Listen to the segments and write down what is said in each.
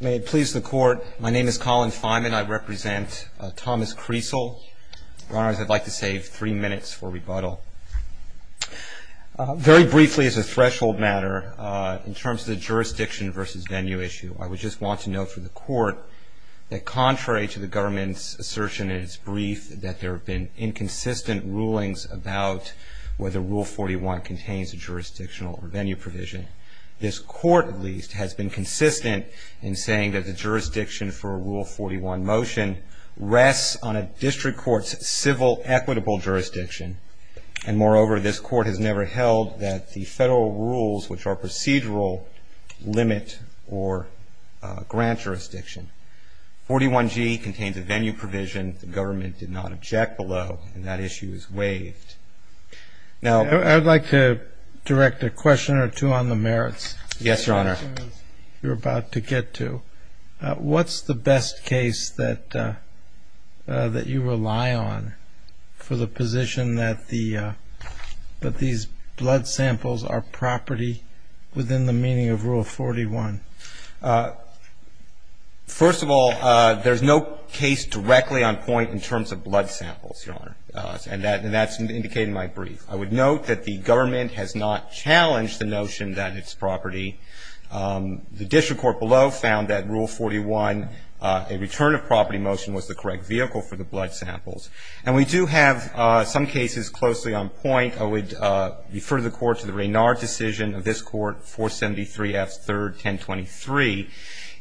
May it please the Court, my name is Colin Feynman. I represent Thomas Kriesel. Your Honors, I'd like to save three minutes for rebuttal. Very briefly as a threshold matter, in terms of the jurisdiction v. venue issue, I would just want to note for the Court that contrary to the government's assertion in its brief that there have been inconsistent rulings about whether Rule 41 contains a jurisdictional or venue provision, this Court, at least, has been consistent in saying that the jurisdiction for a Rule 41 motion rests on a district court's civil equitable jurisdiction. And moreover, this Court has never held that the federal rules, which are procedural, limit or grant jurisdiction. 41g contains a venue provision. The government did not object below, and that issue is waived. I'd like to direct a question or two on the merits. Yes, Your Honor. You're about to get to. What's the best case that you rely on for the position that these blood samples are property within the meaning of Rule 41? First of all, there's no case directly on point in terms of blood samples, Your Honor. And that's indicated in my brief. I would note that the government has not challenged the notion that it's property. The district court below found that Rule 41, a return of property motion, was the correct vehicle for the blood samples. And we do have some cases closely on point. I would refer the Court to the Raynard decision of this Court, 473 F. 3rd, 1023,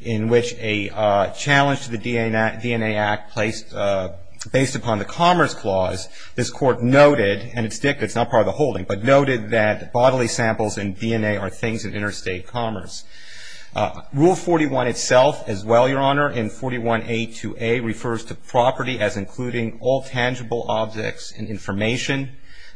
in which a challenge to the DNA Act based upon the Commerce Clause, this Court noted, and it's not part of the holding, but noted that bodily samples and DNA are things of interstate commerce. Rule 41 itself, as well, Your Honor, in 41a2a, refers to property as including all tangible objects and information.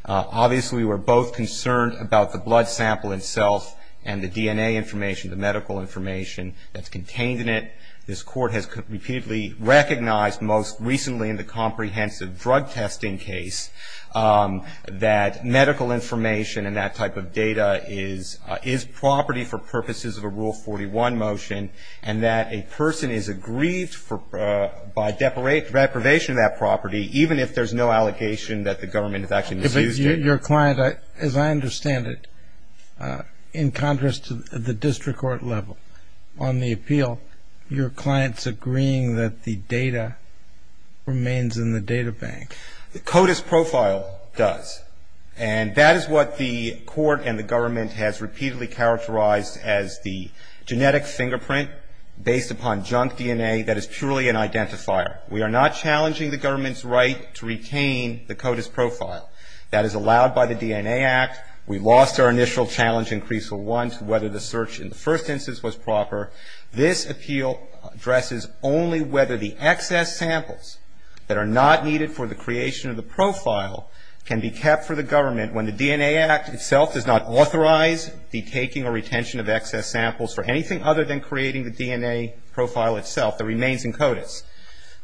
Obviously, we're both concerned about the blood sample itself and the DNA information, the medical information that's contained in it. This Court has repeatedly recognized, most recently in the comprehensive drug testing case, that medical information and that type of data is property for purposes of a Rule 41 motion and that a person is aggrieved by deprivation of that property, even if there's no allegation that the government has actually misused it. Your client, as I understand it, in contrast to the district court level, on the appeal, your client's agreeing that the data remains in the data bank. The CODIS profile does. And that is what the Court and the government has repeatedly characterized as the genetic fingerprint based upon junk DNA that is purely an identifier. We are not challenging the government's right to retain the CODIS profile. That is allowed by the DNA Act. We lost our initial challenge in Creaseville 1 to whether the search in the first instance was proper. This appeal addresses only whether the excess samples that are not needed for the creation of the profile can be kept for the government when the DNA Act itself does not authorize the taking or retention of excess samples for anything other than creating the DNA profile itself that remains in CODIS.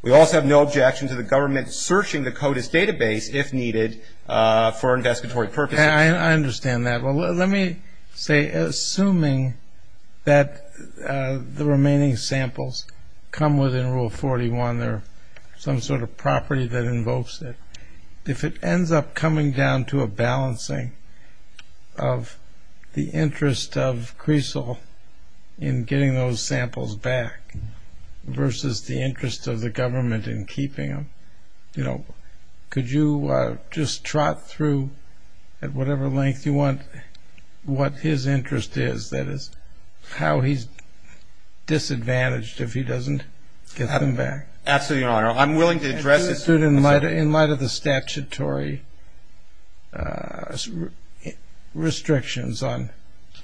We also have no objection to the government searching the CODIS database if needed for investigatory purposes. I understand that. Well, let me say, assuming that the remaining samples come within Rule 41, they're some sort of property that invokes it, if it ends up coming down to a balancing of the interest of Creaseville in getting those samples back versus the interest of the government in keeping them, could you just trot through at whatever length you want what his interest is, that is, how he's disadvantaged if he doesn't get them back? Absolutely, Your Honor. I'm willing to address it. In light of the statutory restrictions on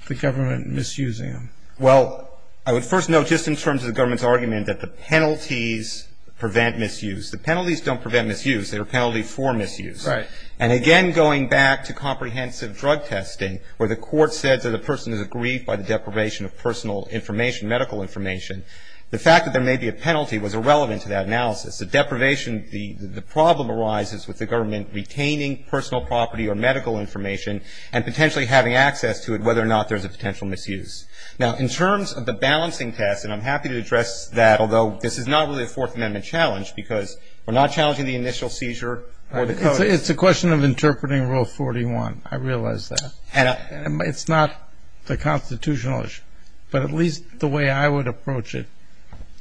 the government misusing them. Well, I would first note just in terms of the government's argument that the penalties prevent misuse. The penalties don't prevent misuse. They're a penalty for misuse. Right. And again, going back to comprehensive drug testing where the court said that a person is aggrieved by the deprivation of personal information, medical information, the fact that there may be a penalty was irrelevant to that analysis. The deprivation, the problem arises with the government retaining personal property or medical information and potentially having access to it whether or not there's a potential misuse. Now, in terms of the balancing test, and I'm happy to address that, although this is not really a Fourth Amendment challenge because we're not challenging the initial seizure or the code. It's a question of interpreting Rule 41. I realize that. It's not the constitutional issue, but at least the way I would approach it,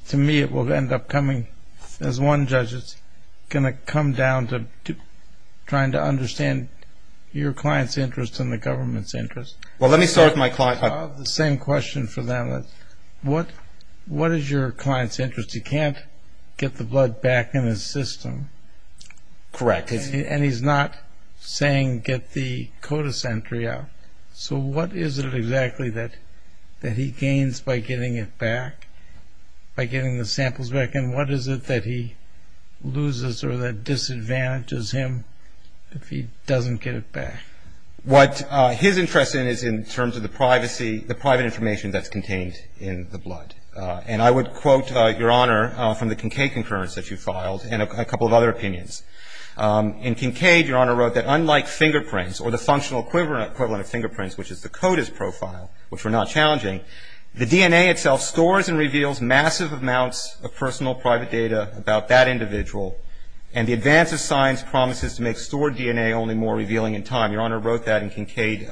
to me it will end up coming, as one judge, it's going to come down to trying to understand your client's interest and the government's interest. Well, let me start with my client. I have the same question for them. What is your client's interest? He can't get the blood back in his system. Correct. And he's not saying get the CODIS entry out. So what is it exactly that he gains by getting it back, by getting the samples back, and what is it that he loses or that disadvantages him if he doesn't get it back? What his interest is in terms of the privacy, the private information that's contained in the blood. And I would quote, Your Honor, from the Kincaid concurrence that you filed and a couple of other opinions. In Kincaid, Your Honor wrote that unlike fingerprints or the functional equivalent of fingerprints, which is the CODIS profile, which we're not challenging, the DNA itself stores and reveals massive amounts of personal private data about that individual, and the advance of science promises to make stored DNA only more revealing in time. Your Honor wrote that in Kincaid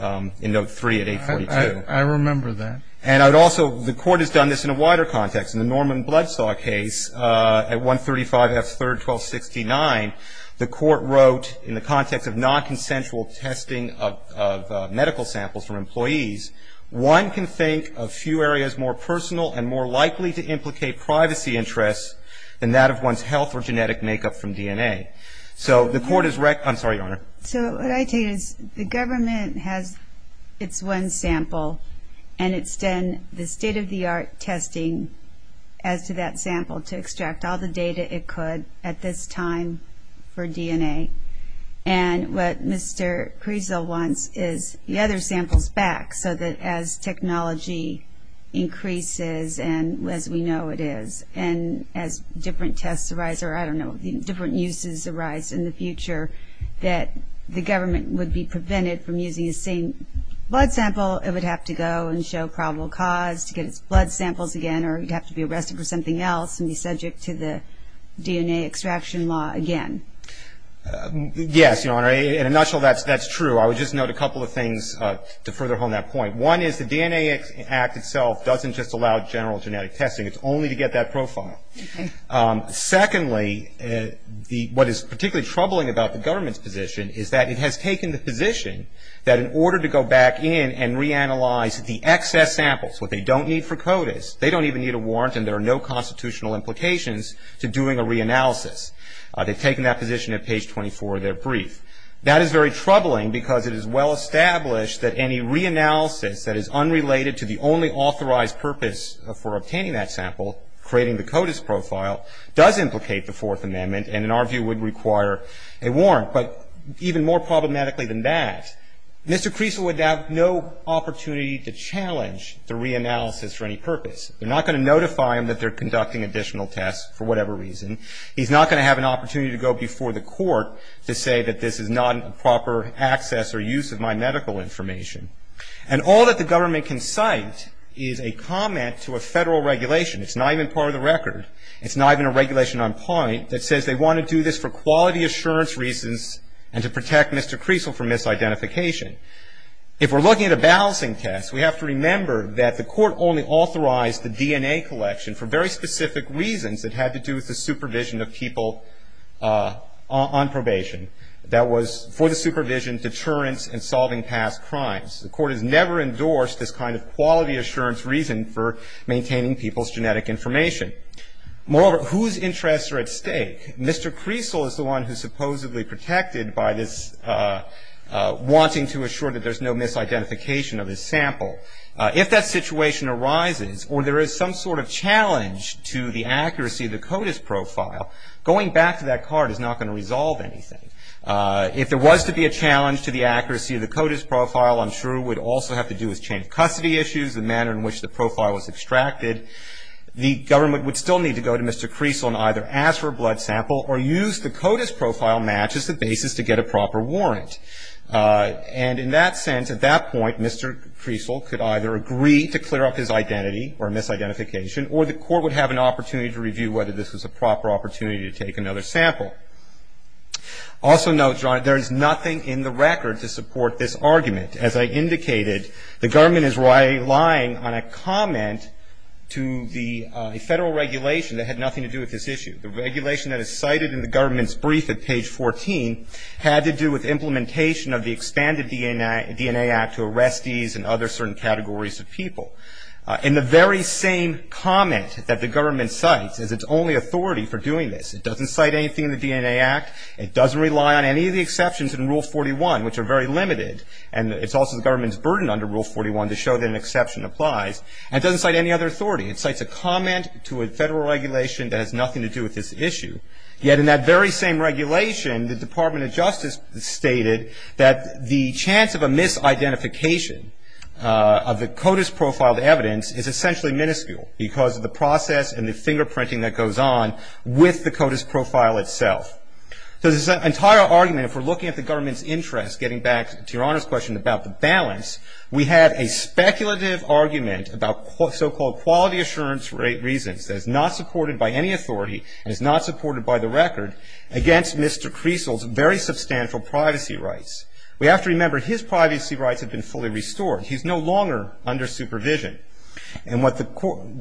in Note 3 at 842. I remember that. And I would also, the Court has done this in a wider context. In the Norman Blood Saw case at 135 F. 3rd, 1269, the Court wrote in the context of nonconsensual testing of medical samples from employees, one can think of few areas more personal and more likely to implicate privacy interests than that of one's health or genetic makeup from DNA. So the Court is, I'm sorry, Your Honor. So what I take is the government has its one sample, and it's done the state-of-the-art testing as to that sample to extract all the data it could at this time for DNA. And what Mr. Prezel wants is the other samples back so that as technology increases, and as we know it is, and as different tests arise, or I don't know, different uses arise in the future, that the government would be prevented from using the same blood sample. It would have to go and show probable cause to get its blood samples again, or it would have to be arrested for something else and be subject to the DNA extraction law again. Yes, Your Honor. In a nutshell, that's true. I would just note a couple of things to further hone that point. One is the DNA Act itself doesn't just allow general genetic testing. It's only to get that profile. Secondly, what is particularly troubling about the government's position is that it has taken the position that in order to go back in and reanalyze the excess samples, what they don't need for CODIS, they don't even need a warrant, and there are no constitutional implications to doing a reanalysis. They've taken that position at page 24 of their brief. That is very troubling because it is well established that any reanalysis that is unrelated to the only authorized purpose for obtaining that sample, creating the CODIS profile, does implicate the Fourth Amendment and in our view would require a warrant. But even more problematically than that, Mr. Creason would have no opportunity to challenge the reanalysis for any purpose. They're not going to notify him that they're conducting additional tests for whatever reason. He's not going to have an opportunity to go before the court to say that this is not a proper access or use of my medical information. And all that the government can cite is a comment to a Federal regulation. It's not even part of the record. It's not even a regulation on point that says they want to do this for quality assurance reasons and to protect Mr. Creason from misidentification. If we're looking at a balancing test, we have to remember that the court only authorized the DNA collection for very specific reasons that had to do with the supervision of people on probation. That was for the supervision, deterrence, and solving past crimes. The court has never endorsed this kind of quality assurance reason for maintaining people's genetic information. Moreover, whose interests are at stake? Mr. Creason is the one who's supposedly protected by this wanting to assure that there's no misidentification of his sample. If that situation arises or there is some sort of challenge to the accuracy of the CODIS profile, going back to that card is not going to resolve anything. If there was to be a challenge to the accuracy of the CODIS profile, I'm sure it would also have to do with chain of custody issues, the manner in which the profile was extracted. The government would still need to go to Mr. Creason and either ask for a blood sample or use the CODIS profile match as the basis to get a proper warrant. And in that sense, at that point, Mr. Creason could either agree to clear up his identity or misidentification, or the court would have an opportunity to review whether this was a proper opportunity to take another sample. Also note, John, there is nothing in the record to support this argument. As I indicated, the government is relying on a comment to the federal regulation that had nothing to do with this issue. The regulation that is cited in the government's brief at page 14 had to do with implementation of the Expanded DNA Act to arrestees and other certain categories of people. And the very same comment that the government cites is its only authority for doing this. It doesn't cite anything in the DNA Act. It doesn't rely on any of the exceptions in Rule 41, which are very limited. And it's also the government's burden under Rule 41 to show that an exception applies. And it doesn't cite any other authority. It cites a comment to a federal regulation that has nothing to do with this issue. Yet in that very same regulation, the Department of Justice stated that the chance of a misidentification of the CODIS profiled evidence is essentially minuscule because of the process and the fingerprinting that goes on with the CODIS profile itself. So this entire argument, if we're looking at the government's interest, getting back to Your Honor's question about the balance, we had a speculative argument about so-called quality assurance reasons that is not supported by any authority and is not supported by the record against Mr. Creasel's very substantial privacy rights. We have to remember his privacy rights have been fully restored. He's no longer under supervision. And what the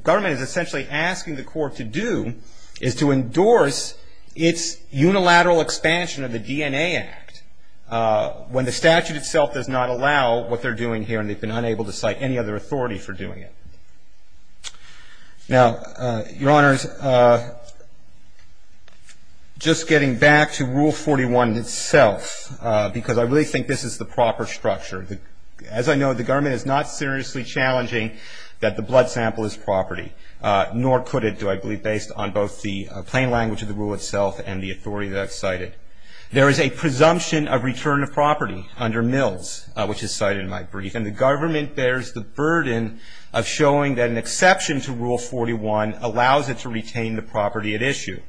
government is essentially asking the court to do is to endorse its unilateral expansion of the DNA Act when the statute itself does not allow what they're doing here and they've been unable to cite any other authority for doing it. Now, Your Honors, just getting back to Rule 41 itself, because I really think this is the proper structure, as I know, the government is not seriously challenging that the blood sample is property, nor could it, do I believe, based on both the plain language of the rule itself and the authority that I've cited. There is a presumption of return of property under Mills, which is cited in my brief, and the government bears the burden of showing that an exception to Rule 41 allows it to retain the property at issue.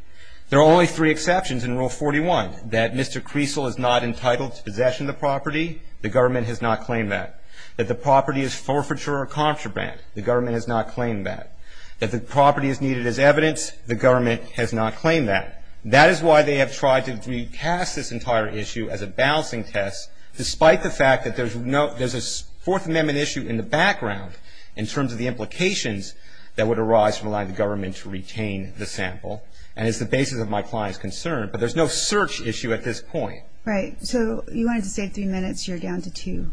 There are only three exceptions in Rule 41, that Mr. Creasel is not entitled to possession of property, the government has not claimed that. That the property is forfeiture or contraband, the government has not claimed that. That the property is needed as evidence, the government has not claimed that. That is why they have tried to recast this entire issue as a balancing test, despite the fact that there's a Fourth Amendment issue in the background in terms of the implications that would arise from allowing the government to retain the sample, and it's the basis of my client's concern. But there's no search issue at this point. Right. So you wanted to say three minutes. You're down to two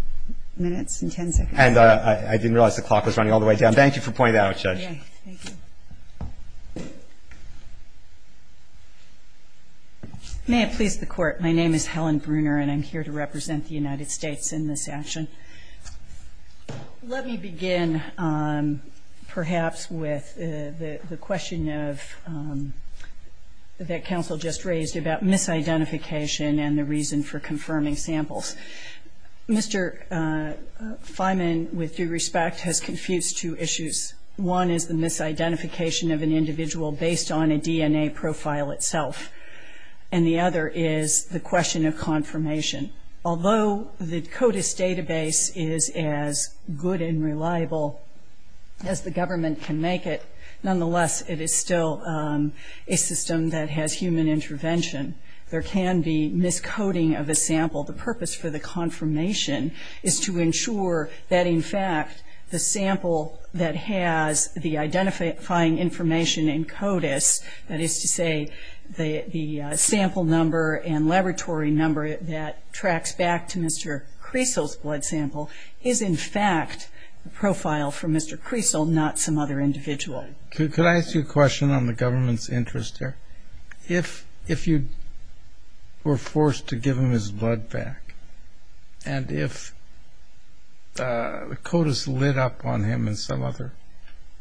minutes and ten seconds. And I didn't realize the clock was running all the way down. Thank you for pointing that out, Judge. Okay. Thank you. May it please the Court. My name is Helen Bruner, and I'm here to represent the United States in this action. Let me begin, perhaps, with the question that counsel just raised about misidentification and the reason for confirming samples. Mr. Feynman, with due respect, has confused two issues. One is the misidentification of an individual based on a DNA profile itself, and the other is the question of confirmation. Although the CODIS database is as good and reliable as the government can make it, nonetheless, it is still a system that has human intervention. There can be miscoding of a sample. The purpose for the confirmation is to ensure that, in fact, the sample that has the identifying information in CODIS, that is to say the sample number and laboratory number that tracks back to Mr. Cresel's blood sample, is, in fact, a profile from Mr. Cresel, not some other individual. Could I ask you a question on the government's interest here? If you were forced to give him his blood back and if CODIS lit up on him in some other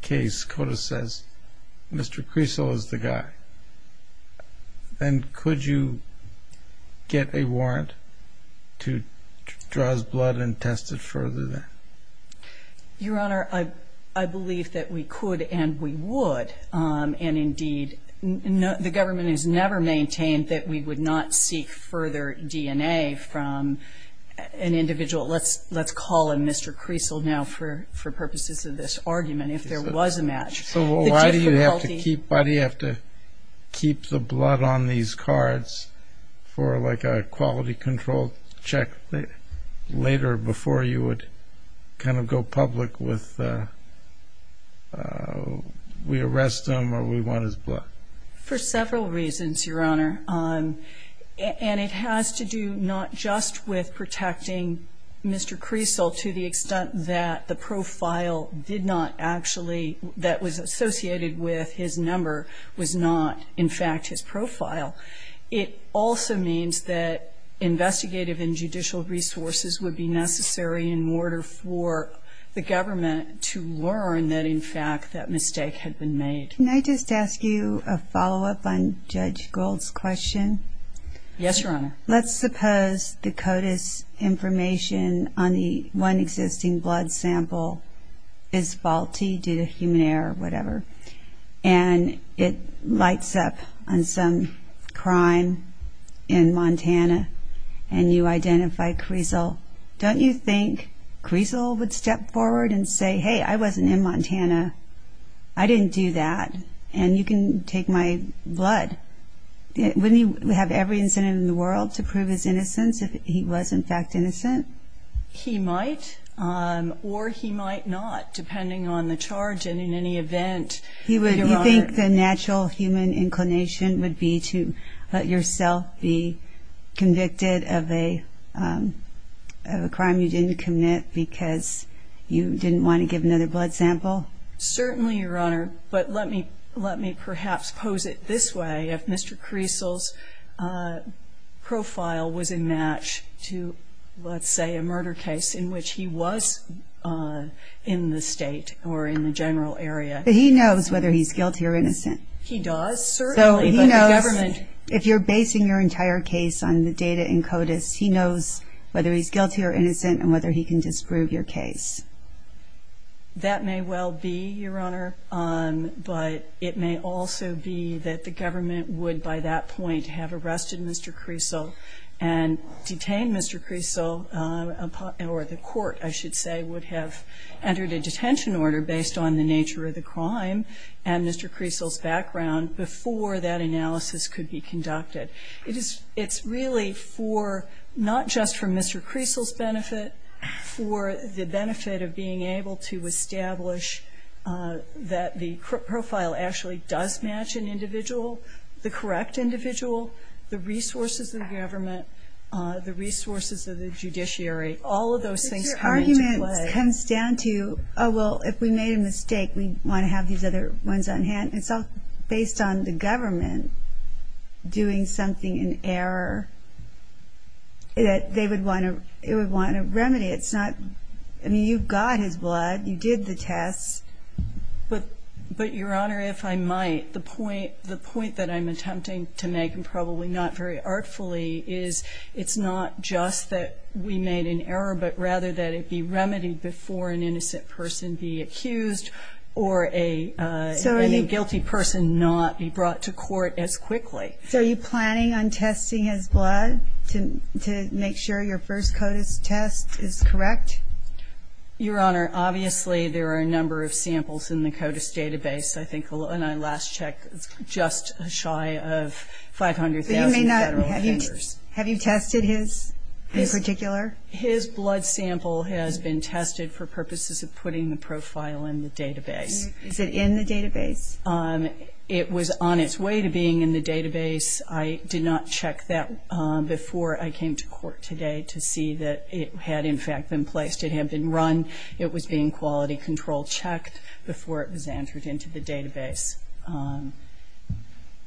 case, CODIS says Mr. Cresel is the guy, then could you get a warrant to draw his blood and test it further then? Your Honor, I believe that we could and we would. And, indeed, the government has never maintained that we would not seek further DNA from an individual. Let's call him Mr. Cresel now for purposes of this argument if there was a match. So why do you have to keep the blood on these cards for like a quality control check later before you would kind of go public with we arrest him or we want his blood? For several reasons, Your Honor. And it has to do not just with protecting Mr. Cresel to the extent that the profile did not actually, that was associated with his number, was not, in fact, his profile. It also means that investigative and judicial resources would be necessary in order for the government to learn that, in fact, that mistake had been made. Can I just ask you a follow-up on Judge Gould's question? Yes, Your Honor. Let's suppose the CODIS information on the one existing blood sample is faulty due to human error or whatever and it lights up on some crime in Montana and you identify Cresel. Don't you think Cresel would step forward and say, hey, I wasn't in Montana, I didn't do that, and you can take my blood? Wouldn't he have every incentive in the world to prove his innocence if he was, in fact, innocent? He might or he might not, depending on the charge and in any event. You think the natural human inclination would be to let yourself be convicted of a crime you didn't commit because you didn't want to give another blood sample? Certainly, Your Honor, but let me perhaps pose it this way. If Mr. Cresel's profile was a match to, let's say, a murder case in which he was in the state or in the general area. He knows whether he's guilty or innocent. He does, certainly. So he knows if you're basing your entire case on the data in CODIS, he knows whether he's guilty or innocent and whether he can disprove your case. That may well be, Your Honor, but it may also be that the government would, by that point, have arrested Mr. Cresel and detained Mr. Cresel or the court, I should say, would have entered a detention order based on the nature of the crime and Mr. Cresel's background before that analysis could be conducted. It's really not just for Mr. Cresel's benefit, for the benefit of being able to establish that the profile actually does match an individual, the correct individual, the resources of the government, the resources of the judiciary. All of those things come into play. But your argument comes down to, oh, well, if we made a mistake, we want to have these other ones on hand. It's all based on the government doing something in error that they would want to remedy. It's not ñ I mean, you've got his blood. You did the tests. But, Your Honor, if I might, the point that I'm attempting to make, and probably not very artfully, is it's not just that we made an error, but rather that it be remedied before an innocent person be accused or a guilty person. Not be brought to court as quickly. So are you planning on testing his blood to make sure your first CODIS test is correct? Your Honor, obviously there are a number of samples in the CODIS database. I think, and I last checked, just shy of 500,000 federal offenders. Have you tested his in particular? His blood sample has been tested for purposes of putting the profile in the database. Is it in the database? It was on its way to being in the database. I did not check that before I came to court today to see that it had, in fact, been placed. It had been run. It was being quality control checked before it was entered into the database.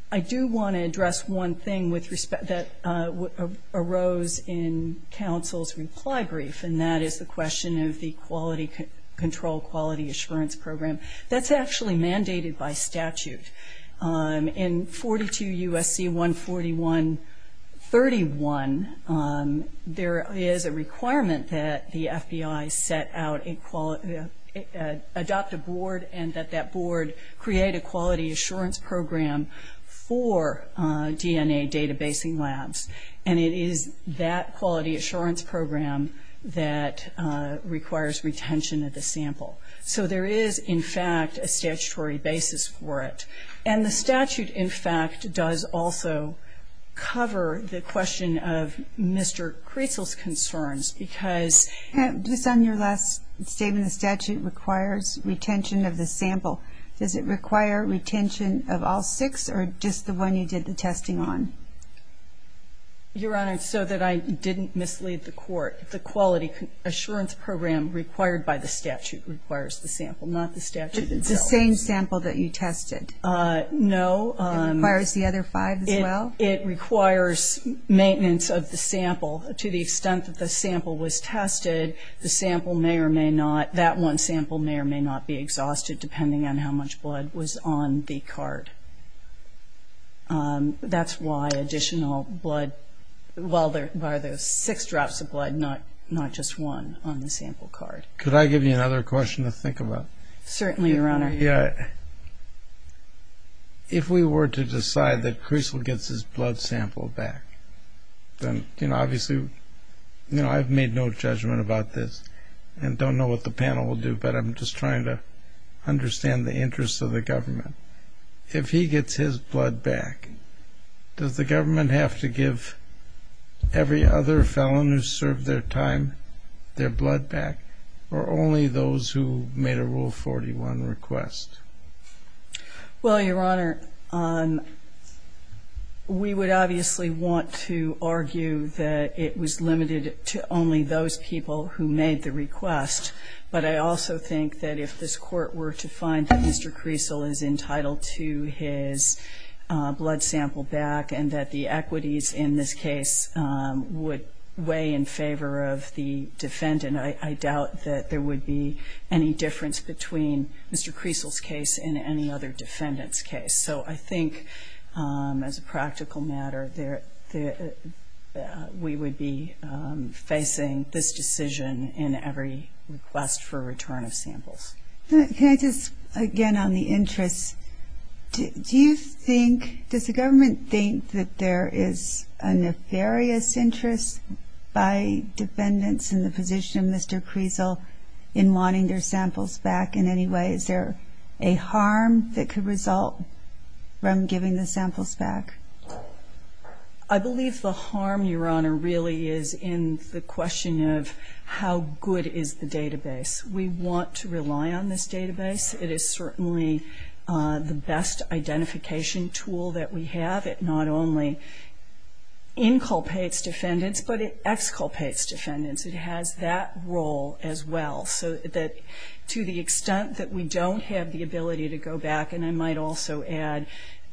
I do want to address one thing that arose in counsel's reply brief, and that is the question of the Quality Control Quality Assurance Program. That's actually mandated by statute. In 42 U.S.C. 141-31, there is a requirement that the FBI set out, adopt a board and that that board create a Quality Assurance Program for DNA databasing labs. And it is that Quality Assurance Program that requires retention of the sample. So there is, in fact, a statutory basis for it. And the statute, in fact, does also cover the question of Mr. Creasle's concerns because ---- Just on your last statement, the statute requires retention of the sample. Does it require retention of all six or just the one you did the testing on? Your Honor, so that I didn't mislead the Court, the Quality Assurance Program required by the statute requires the sample, not the statute itself. It's the same sample that you tested? No. It requires the other five as well? It requires maintenance of the sample to the extent that the sample was tested. The sample may or may not, that one sample may or may not be exhausted, depending on how much blood was on the card. That's why additional blood, well, there are six drops of blood, not just one on the sample card. Could I give you another question to think about? Certainly, Your Honor. Yeah. If we were to decide that Creasle gets his blood sample back, then obviously I've made no judgment about this and don't know what the panel will do, but I'm just trying to understand the interests of the government. If he gets his blood back, does the government have to give every other felon who served their time their blood back or only those who made a Rule 41 request? Well, Your Honor, we would obviously want to argue that it was limited to only those people who made the request, but I also think that if this Court were to find that Mr. Creasle is entitled to his blood sample back and that the equities in this case would weigh in favor of the defendant, I doubt that there would be any difference between Mr. Creasle's case and any other defendant's case. So I think, as a practical matter, we would be facing this decision in every request for return of samples. Can I just, again, on the interests, does the government think that there is a nefarious interest by defendants in the position of Mr. Creasle in wanting their samples back in any way? Is there a harm that could result from giving the samples back? I believe the harm, Your Honor, really is in the question of how good is the database. We want to rely on this database. It is certainly the best identification tool that we have. It not only inculpates defendants, but it exculpates defendants. It has that role as well. So that to the extent that we don't have the ability to go back, and I might also add,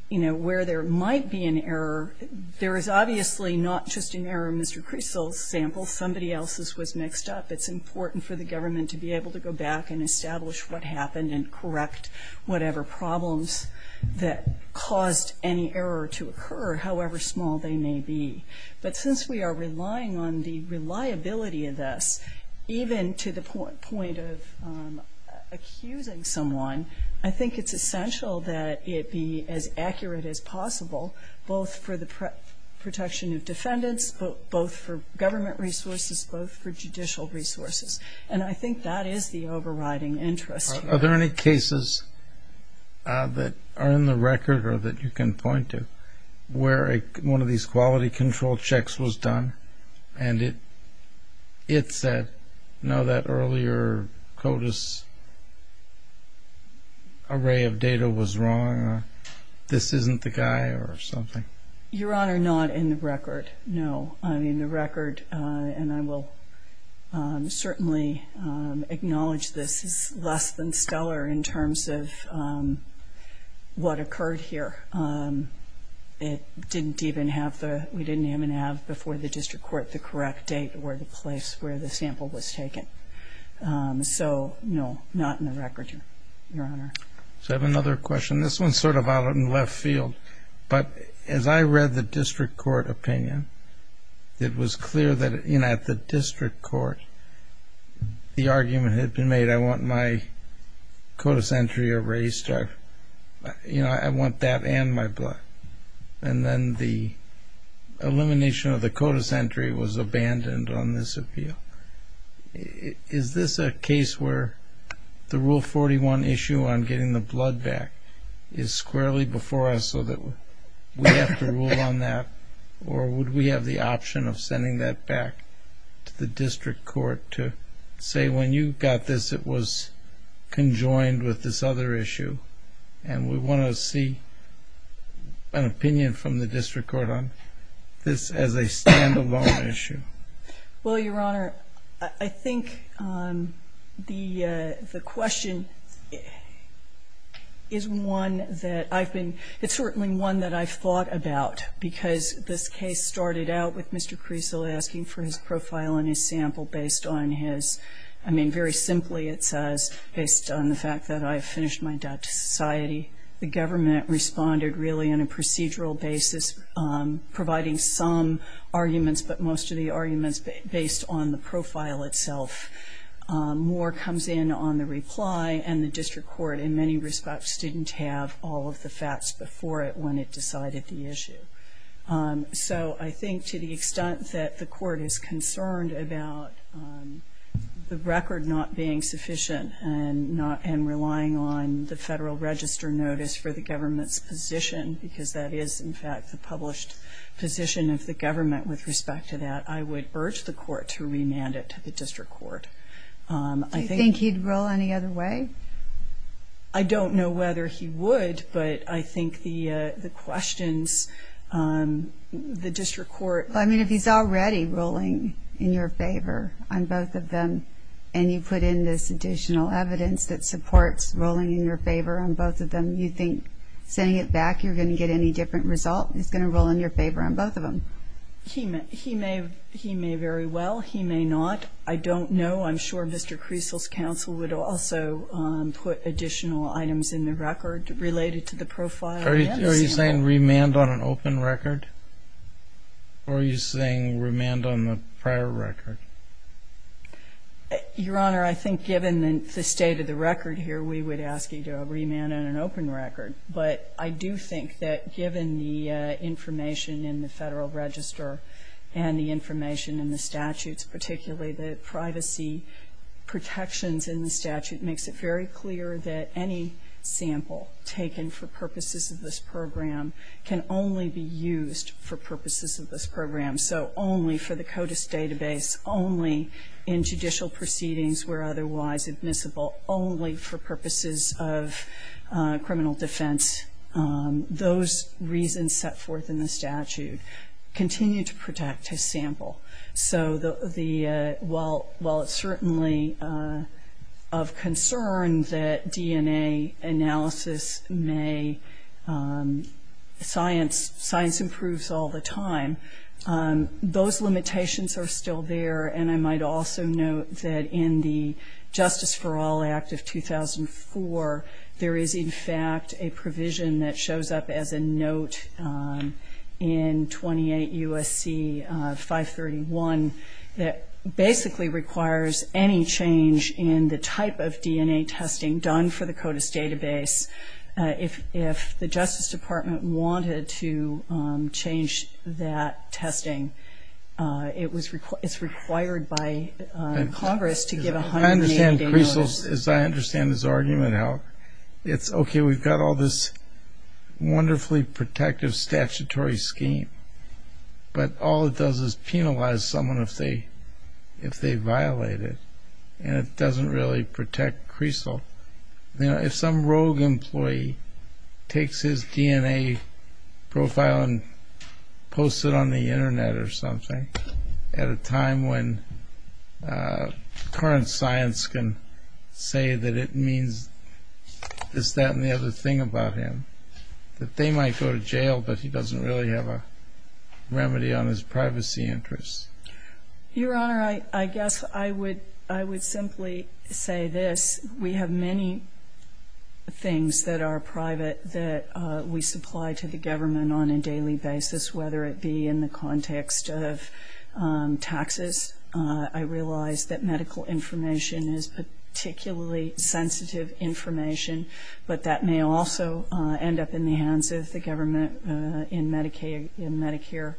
you know, where there might be an error, there is obviously not just an error in Mr. Creasle's sample. Somebody else's was mixed up. It's important for the government to be able to go back and establish what happened and correct whatever problems that caused any error to occur, however small they may be. But since we are relying on the reliability of this, even to the point of accusing someone, I think it's essential that it be as accurate as possible, both for the protection of defendants, both for government resources, both for judicial resources. And I think that is the overriding interest here. Are there any cases that are in the record or that you can point to where one of these quality control checks was done and it said, no, that earlier CODIS array of data was wrong or this isn't the guy or something? Your Honor, not in the record, no. In the record, and I will certainly acknowledge this, is less than stellar in terms of what occurred here. We didn't even have before the district court the correct date or the place where the sample was taken. So, no, not in the record, Your Honor. I have another question. This one is sort of out in the left field. But as I read the district court opinion, it was clear that at the district court the argument had been made, I want my CODIS entry erased. I want that and my blood. And then the elimination of the CODIS entry was abandoned on this appeal. Is this a case where the Rule 41 issue on getting the blood back is squarely before us so that we have to rule on that? Or would we have the option of sending that back to the district court to say when you got this it was conjoined with this other issue and we want to see an opinion from the district court on this as a standalone issue? Well, Your Honor, I think the question is one that I've been, it's certainly one that I've thought about because this case started out with Mr. Creasle asking for his profile and his sample based on his, I mean, very simply it says, based on the fact that I have finished my debt to society. The government responded really in a procedural basis, providing some arguments but most of the arguments based on the profile itself. More comes in on the reply and the district court in many respects didn't have all of the facts before it when it decided the issue. So I think to the extent that the court is concerned about the record not being sufficient and relying on the Federal Register notice for the government's position because that is in fact the published position of the government with respect to that, I would urge the court to remand it to the district court. Do you think he'd rule any other way? I don't know whether he would, but I think the questions, the district court. I mean, if he's already ruling in your favor on both of them and you put in this additional evidence that supports ruling in your favor on both of them, you think sending it back you're going to get any different result? He's going to rule in your favor on both of them? He may very well. He may not. I don't know. I'm sure Mr. Creasle's counsel would also put additional items in the record related to the profile. Are you saying remand on an open record? Or are you saying remand on the prior record? Your Honor, I think given the state of the record here, we would ask you to remand on an open record. But I do think that given the information in the Federal Register and the information in the statutes, particularly the privacy protections in the statute, it makes it very clear that any sample taken for purposes of this program can only be used for purposes of this program. So only for the CODIS database, only in judicial proceedings where otherwise admissible, only for purposes of criminal defense. Those reasons set forth in the statute continue to protect his sample. So while it's certainly of concern that DNA analysis may science improves all the time, those limitations are still there. And I might also note that in the Justice for All Act of 2004, there is, in fact, a provision that shows up as a note in 28 U.S.C. 531 that basically requires any change in the type of DNA testing done for the CODIS database. If the Justice Department wanted to change that testing, it's required by Congress to give a 180-day notice. So as I understand his argument, it's okay, we've got all this wonderfully protective statutory scheme, but all it does is penalize someone if they violate it, and it doesn't really protect CRECEL. If some rogue employee takes his DNA profile and posts it on the Internet or something at a time when current science can say that it means this, that, and the other thing about him, that they might go to jail, but he doesn't really have a remedy on his privacy interests. Your Honor, I guess I would simply say this. We have many things that are private that we supply to the government on a daily basis, whether it be in the context of taxes. I realize that medical information is particularly sensitive information, but that may also end up in the hands of the government in Medicare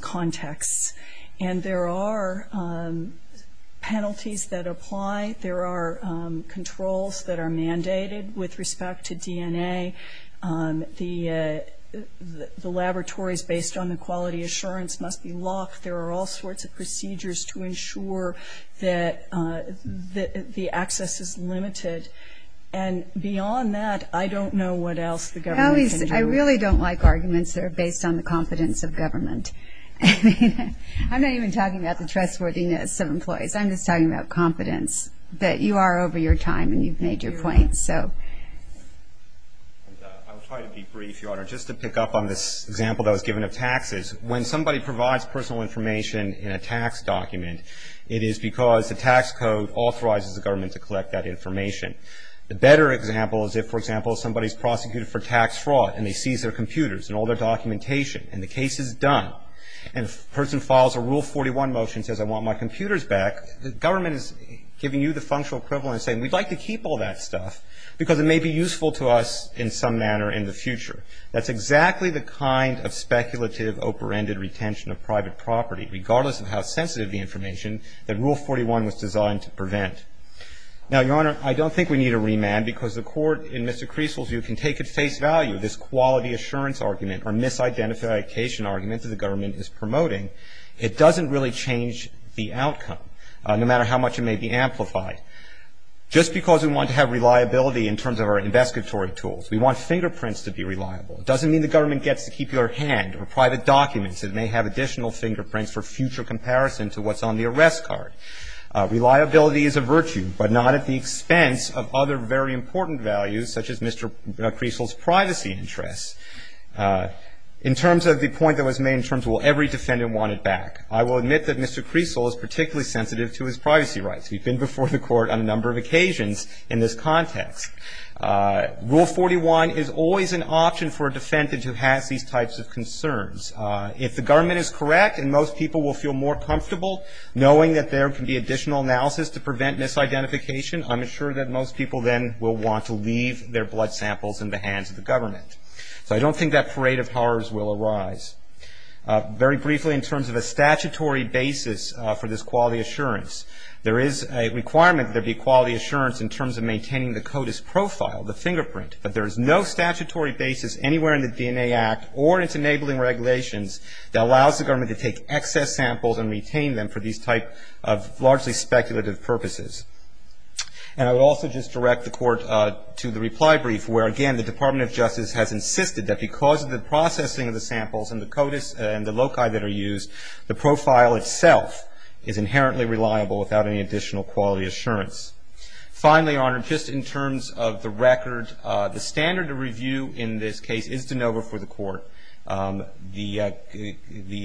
contexts. And there are penalties that apply. There are controls that are mandated with respect to DNA. The laboratories based on the quality assurance must be locked. There are all sorts of procedures to ensure that the access is limited. And beyond that, I don't know what else the government can do. I really don't like arguments that are based on the competence of government. I'm not even talking about the trustworthiness of employees. I'm just talking about competence, that you are over your time and you've made your point. I'll try to be brief, Your Honor. Just to pick up on this example that was given of taxes, when somebody provides personal information in a tax document, it is because the tax code authorizes the government to collect that information. The better example is if, for example, somebody is prosecuted for tax fraud and they seize their computers and all their documentation and the case is done and the person files a Rule 41 motion and says, I want my computers back, the government is giving you the functional equivalent and saying, we'd like to keep all that stuff because it may be useful to us in some manner in the future. That's exactly the kind of speculative, over-ended retention of private property, regardless of how sensitive the information that Rule 41 was designed to prevent. Now, Your Honor, I don't think we need a remand because the court, in Mr. Creaseville's view, can take at face value this quality assurance argument or misidentification argument that the government is promoting. It doesn't really change the outcome, no matter how much it may be amplified. Just because we want to have reliability in terms of our investigatory tools, we want fingerprints to be reliable. It doesn't mean the government gets to keep your hand or private documents. It may have additional fingerprints for future comparison to what's on the arrest card. Reliability is a virtue, but not at the expense of other very important values, such as Mr. Creaseville's privacy interests. In terms of the point that was made in terms of will every defendant want it back, I will admit that Mr. Creaseville is particularly sensitive to his privacy rights. We've been before the court on a number of occasions in this context. Rule 41 is always an option for a defendant who has these types of concerns. If the government is correct and most people will feel more comfortable, knowing that there can be additional analysis to prevent misidentification, I'm assured that most people then will want to leave their blood samples in the hands of the government. So I don't think that parade of horrors will arise. Very briefly, in terms of a statutory basis for this quality assurance, there is a requirement that there be quality assurance in terms of maintaining the CODIS profile, the fingerprint. But there is no statutory basis anywhere in the DNA Act or its enabling regulations that allows the government to take excess samples and retain them for these type of largely speculative purposes. And I would also just direct the court to the reply brief where, again, the Department of Justice has insisted that because of the processing of the samples and the CODIS and the loci that are used, the profile itself is inherently reliable without any additional quality assurance. Finally, Your Honor, just in terms of the record, the standard of review in this case is de novo for the court. The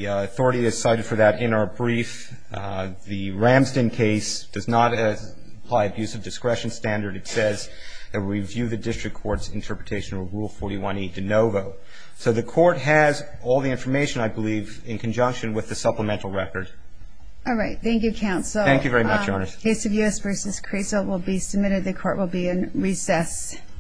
authority is cited for that in our brief. The Ramston case does not apply abuse of discretion standard. It says that we review the district court's interpretation of Rule 41e de novo. So the court has all the information, I believe, in conjunction with the supplemental record. All right. Thank you, counsel. Thank you very much, Your Honor. The case of U.S. v. Creso will be submitted. The court will be in recess.